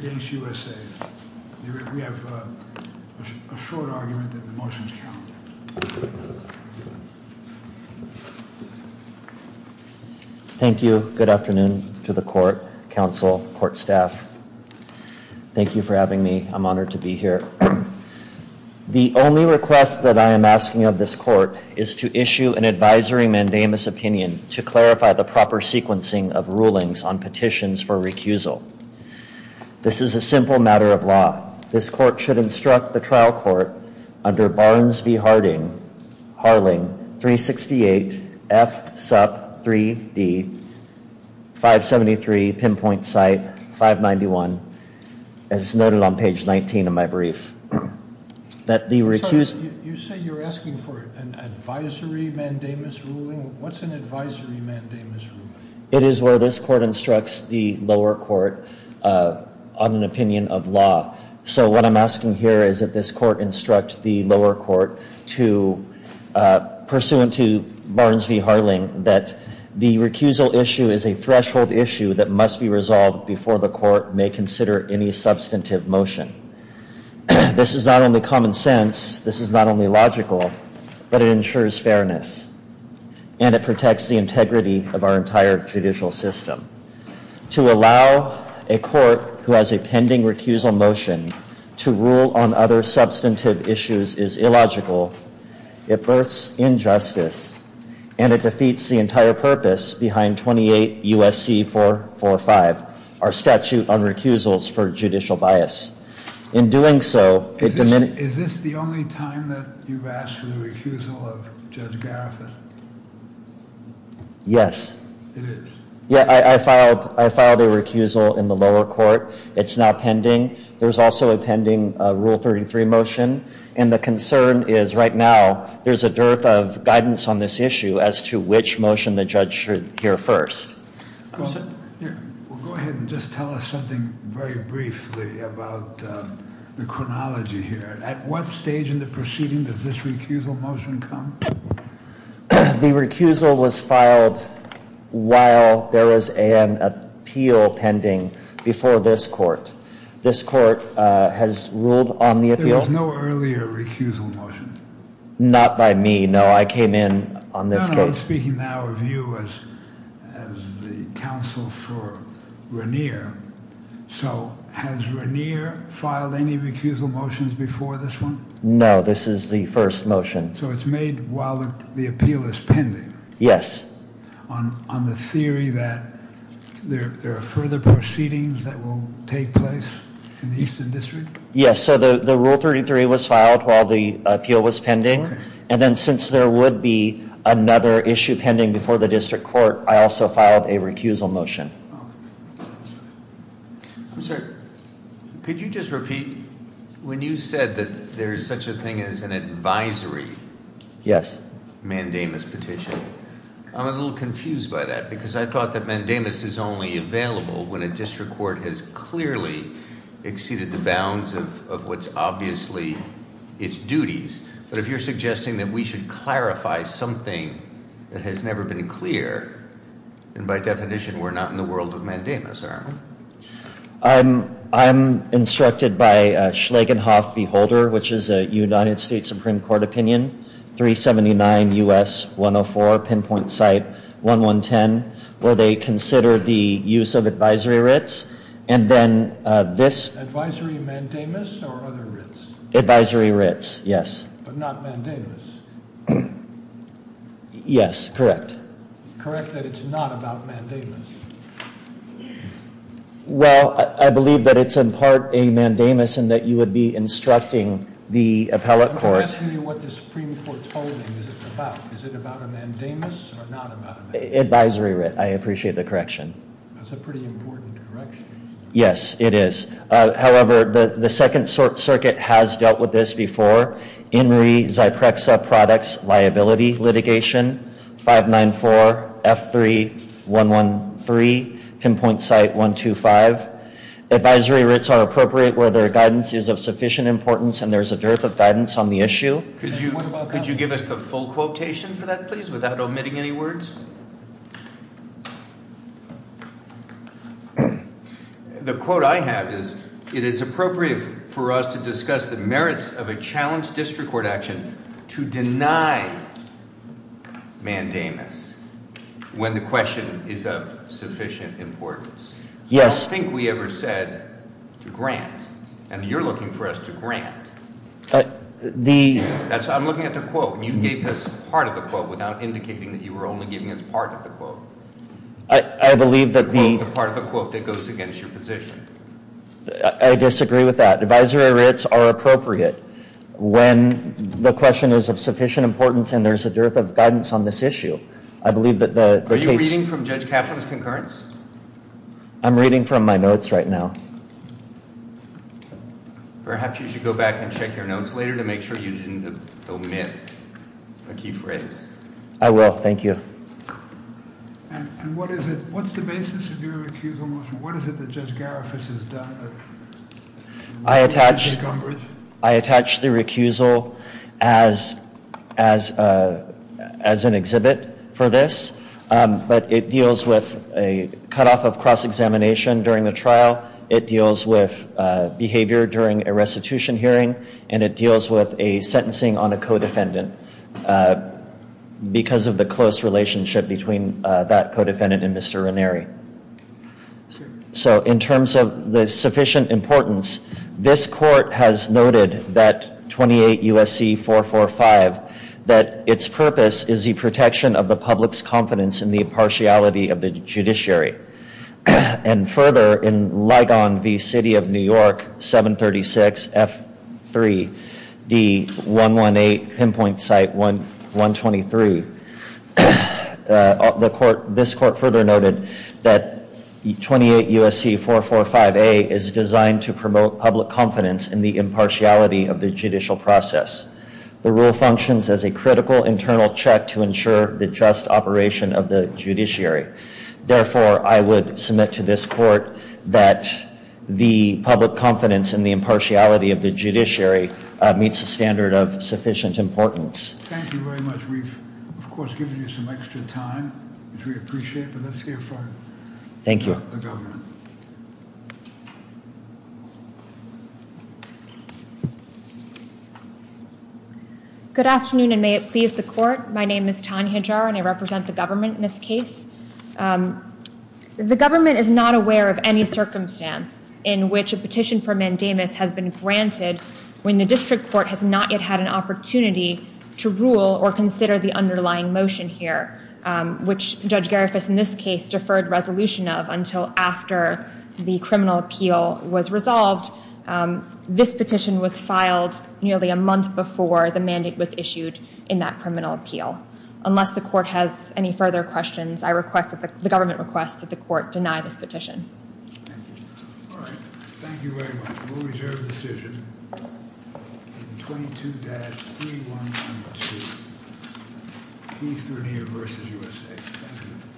against USA. We have a short argument that the motion is counted. Thank you. Good afternoon to the court, counsel, court staff. Thank you for having me. I'm honored to be here. The only request that I am asking of this court is to issue an advisory mandamus opinion to clarify the proper sequencing of rulings on petitions for recusal. This is a simple matter of law. This court should instruct the trial court under Barnes v. Harding, Harling, 368 F. Supp. 3D, 573 pinpoint site 591, as noted on page 19 of my brief, that you say you're asking for an advisory mandamus ruling. What's an advisory mandamus ruling? It is where this court instructs the lower court on an opinion of law. So what I'm asking here is that this court instruct the lower court to, pursuant to Barnes v. Harling, that the recusal issue is a threshold issue that must be resolved before the court may consider any substantive motion. This is not only common sense, this is not only logical, but it ensures fairness and it protects the integrity of our entire judicial system. To allow a court who has a pending recusal motion to rule on other substantive issues is illogical. It births injustice and it defeats the entire purpose behind 28 U.S.C. 445, our statute on recusals for judicial bias. In doing so... Is this the only time that you've asked for the recusal of Judge Garifuth? Yes. It is? Yeah, I filed I filed a recusal in the lower court. It's now pending. There's also a pending Rule 33 motion and the concern is right now there's a dearth of guidance on this issue as to which motion the judge should hear first. Go ahead and just tell us something very briefly about the chronology here. At what stage in the proceeding does this recusal motion come? The recusal was filed while there was an appeal pending before this court. This court has ruled on the appeal. There was no earlier recusal motion? Not by me, no. I came in on this case. No, no, I'm speaking now of you as the counsel for Regnier. So has Regnier filed any recusal motions before this one? No, this is the first motion. So it's made while the appeal is pending? Yes. On the theory that there are further proceedings that will take place in the Eastern District? Yes, so the Rule 33 was filed while the appeal was pending and then since there would be another issue pending before the District Court, I also filed a recusal motion. I'm sorry, could you just repeat when you said that there is such a thing as an advisory mandamus petition? Yes. I'm a little confused by that because I thought that mandamus is only available when a District Court has clearly exceeded the bounds of what's obviously its duties. But if you're suggesting that we should clarify something that has never been clear, then by definition we're not in the world of mandamus, are we? I'm instructed by Schlegenhoff Beholder, which is a United States Supreme Court opinion, 379 U.S. 104, pinpoint site 1110, where they consider the use of advisory writs and then this... Advisory mandamus or other writs? Advisory writs, yes. But not mandamus? Yes, correct. Correct that it's not about mandamus? Well, I believe that it's in part a mandamus and that you would be instructing the appellate court... I'm just asking you what the Supreme Court's holding is it about. Is it about a mandamus or not about a mandamus? Advisory writ, I appreciate the correction. That's a pretty important correction. Yes, it is. However, the Second Circuit has dealt with this before. In re Xiprexa products liability litigation 594 F3113, pinpoint site 125. Advisory writs are appropriate where their guidance is of sufficient importance and there's a dearth of guidance on the issue. Could you give us the full quotation for that please without omitting any words? The quote I have is, it is appropriate for us to discuss the merits of a challenge district to deny mandamus when the question is of sufficient importance. Yes. I don't think we ever said to grant and you're looking for us to grant. I'm looking at the quote and you gave us part of the quote without indicating that you were only giving us part of the quote. I believe that the part of the quote that goes against your position. I disagree with that. Advisory writs are appropriate when the question is of sufficient importance and there's a dearth of guidance on this issue. I believe that the case. Are you reading from Judge Kaplan's concurrence? I'm reading from my notes right now. Perhaps you should go back and check your notes later to make sure you didn't omit a key phrase. I will, thank you. And what is it, what's the basis of your recusal motion? What is it that Judge Garifuss has done? I attached the recusal as an exhibit for this but it deals with a cutoff of cross-examination during the trial. It deals with behavior during a restitution hearing and it deals with a sentencing on a co-defendant because of the close relationship between that co-defendant and Mr. Ranieri. So in terms of the sufficient importance, this court has noted that 28 U.S.C. 445 that its purpose is the protection of the public's confidence in the impartiality of the judiciary and further in Ligon v. City of New York 736 F3 D118 pinpoint site 123. The court, this court further noted that 28 U.S.C. 445 A is designed to promote public confidence in the impartiality of the judicial process. The rule functions as a critical internal check to ensure the just operation of the judiciary. Therefore, I would submit to this court that the public confidence in the impartiality of the judiciary meets the standard of of course giving you some extra time which we appreciate but let's hear from the government. Good afternoon and may it please the court. My name is Tanya Jar and I represent the government in this case. The government is not aware of any circumstance in which a petition for mandamus has been granted when the district court has not yet had an opportunity to rule or consider the underlying motion here which Judge Garifas in this case deferred resolution of until after the criminal appeal was resolved. This petition was filed nearly a month before the mandate was issued in that criminal appeal. Unless the court has any further questions I request that the government request that the court deny this petition. All right thank you very much we'll P30 versus USA.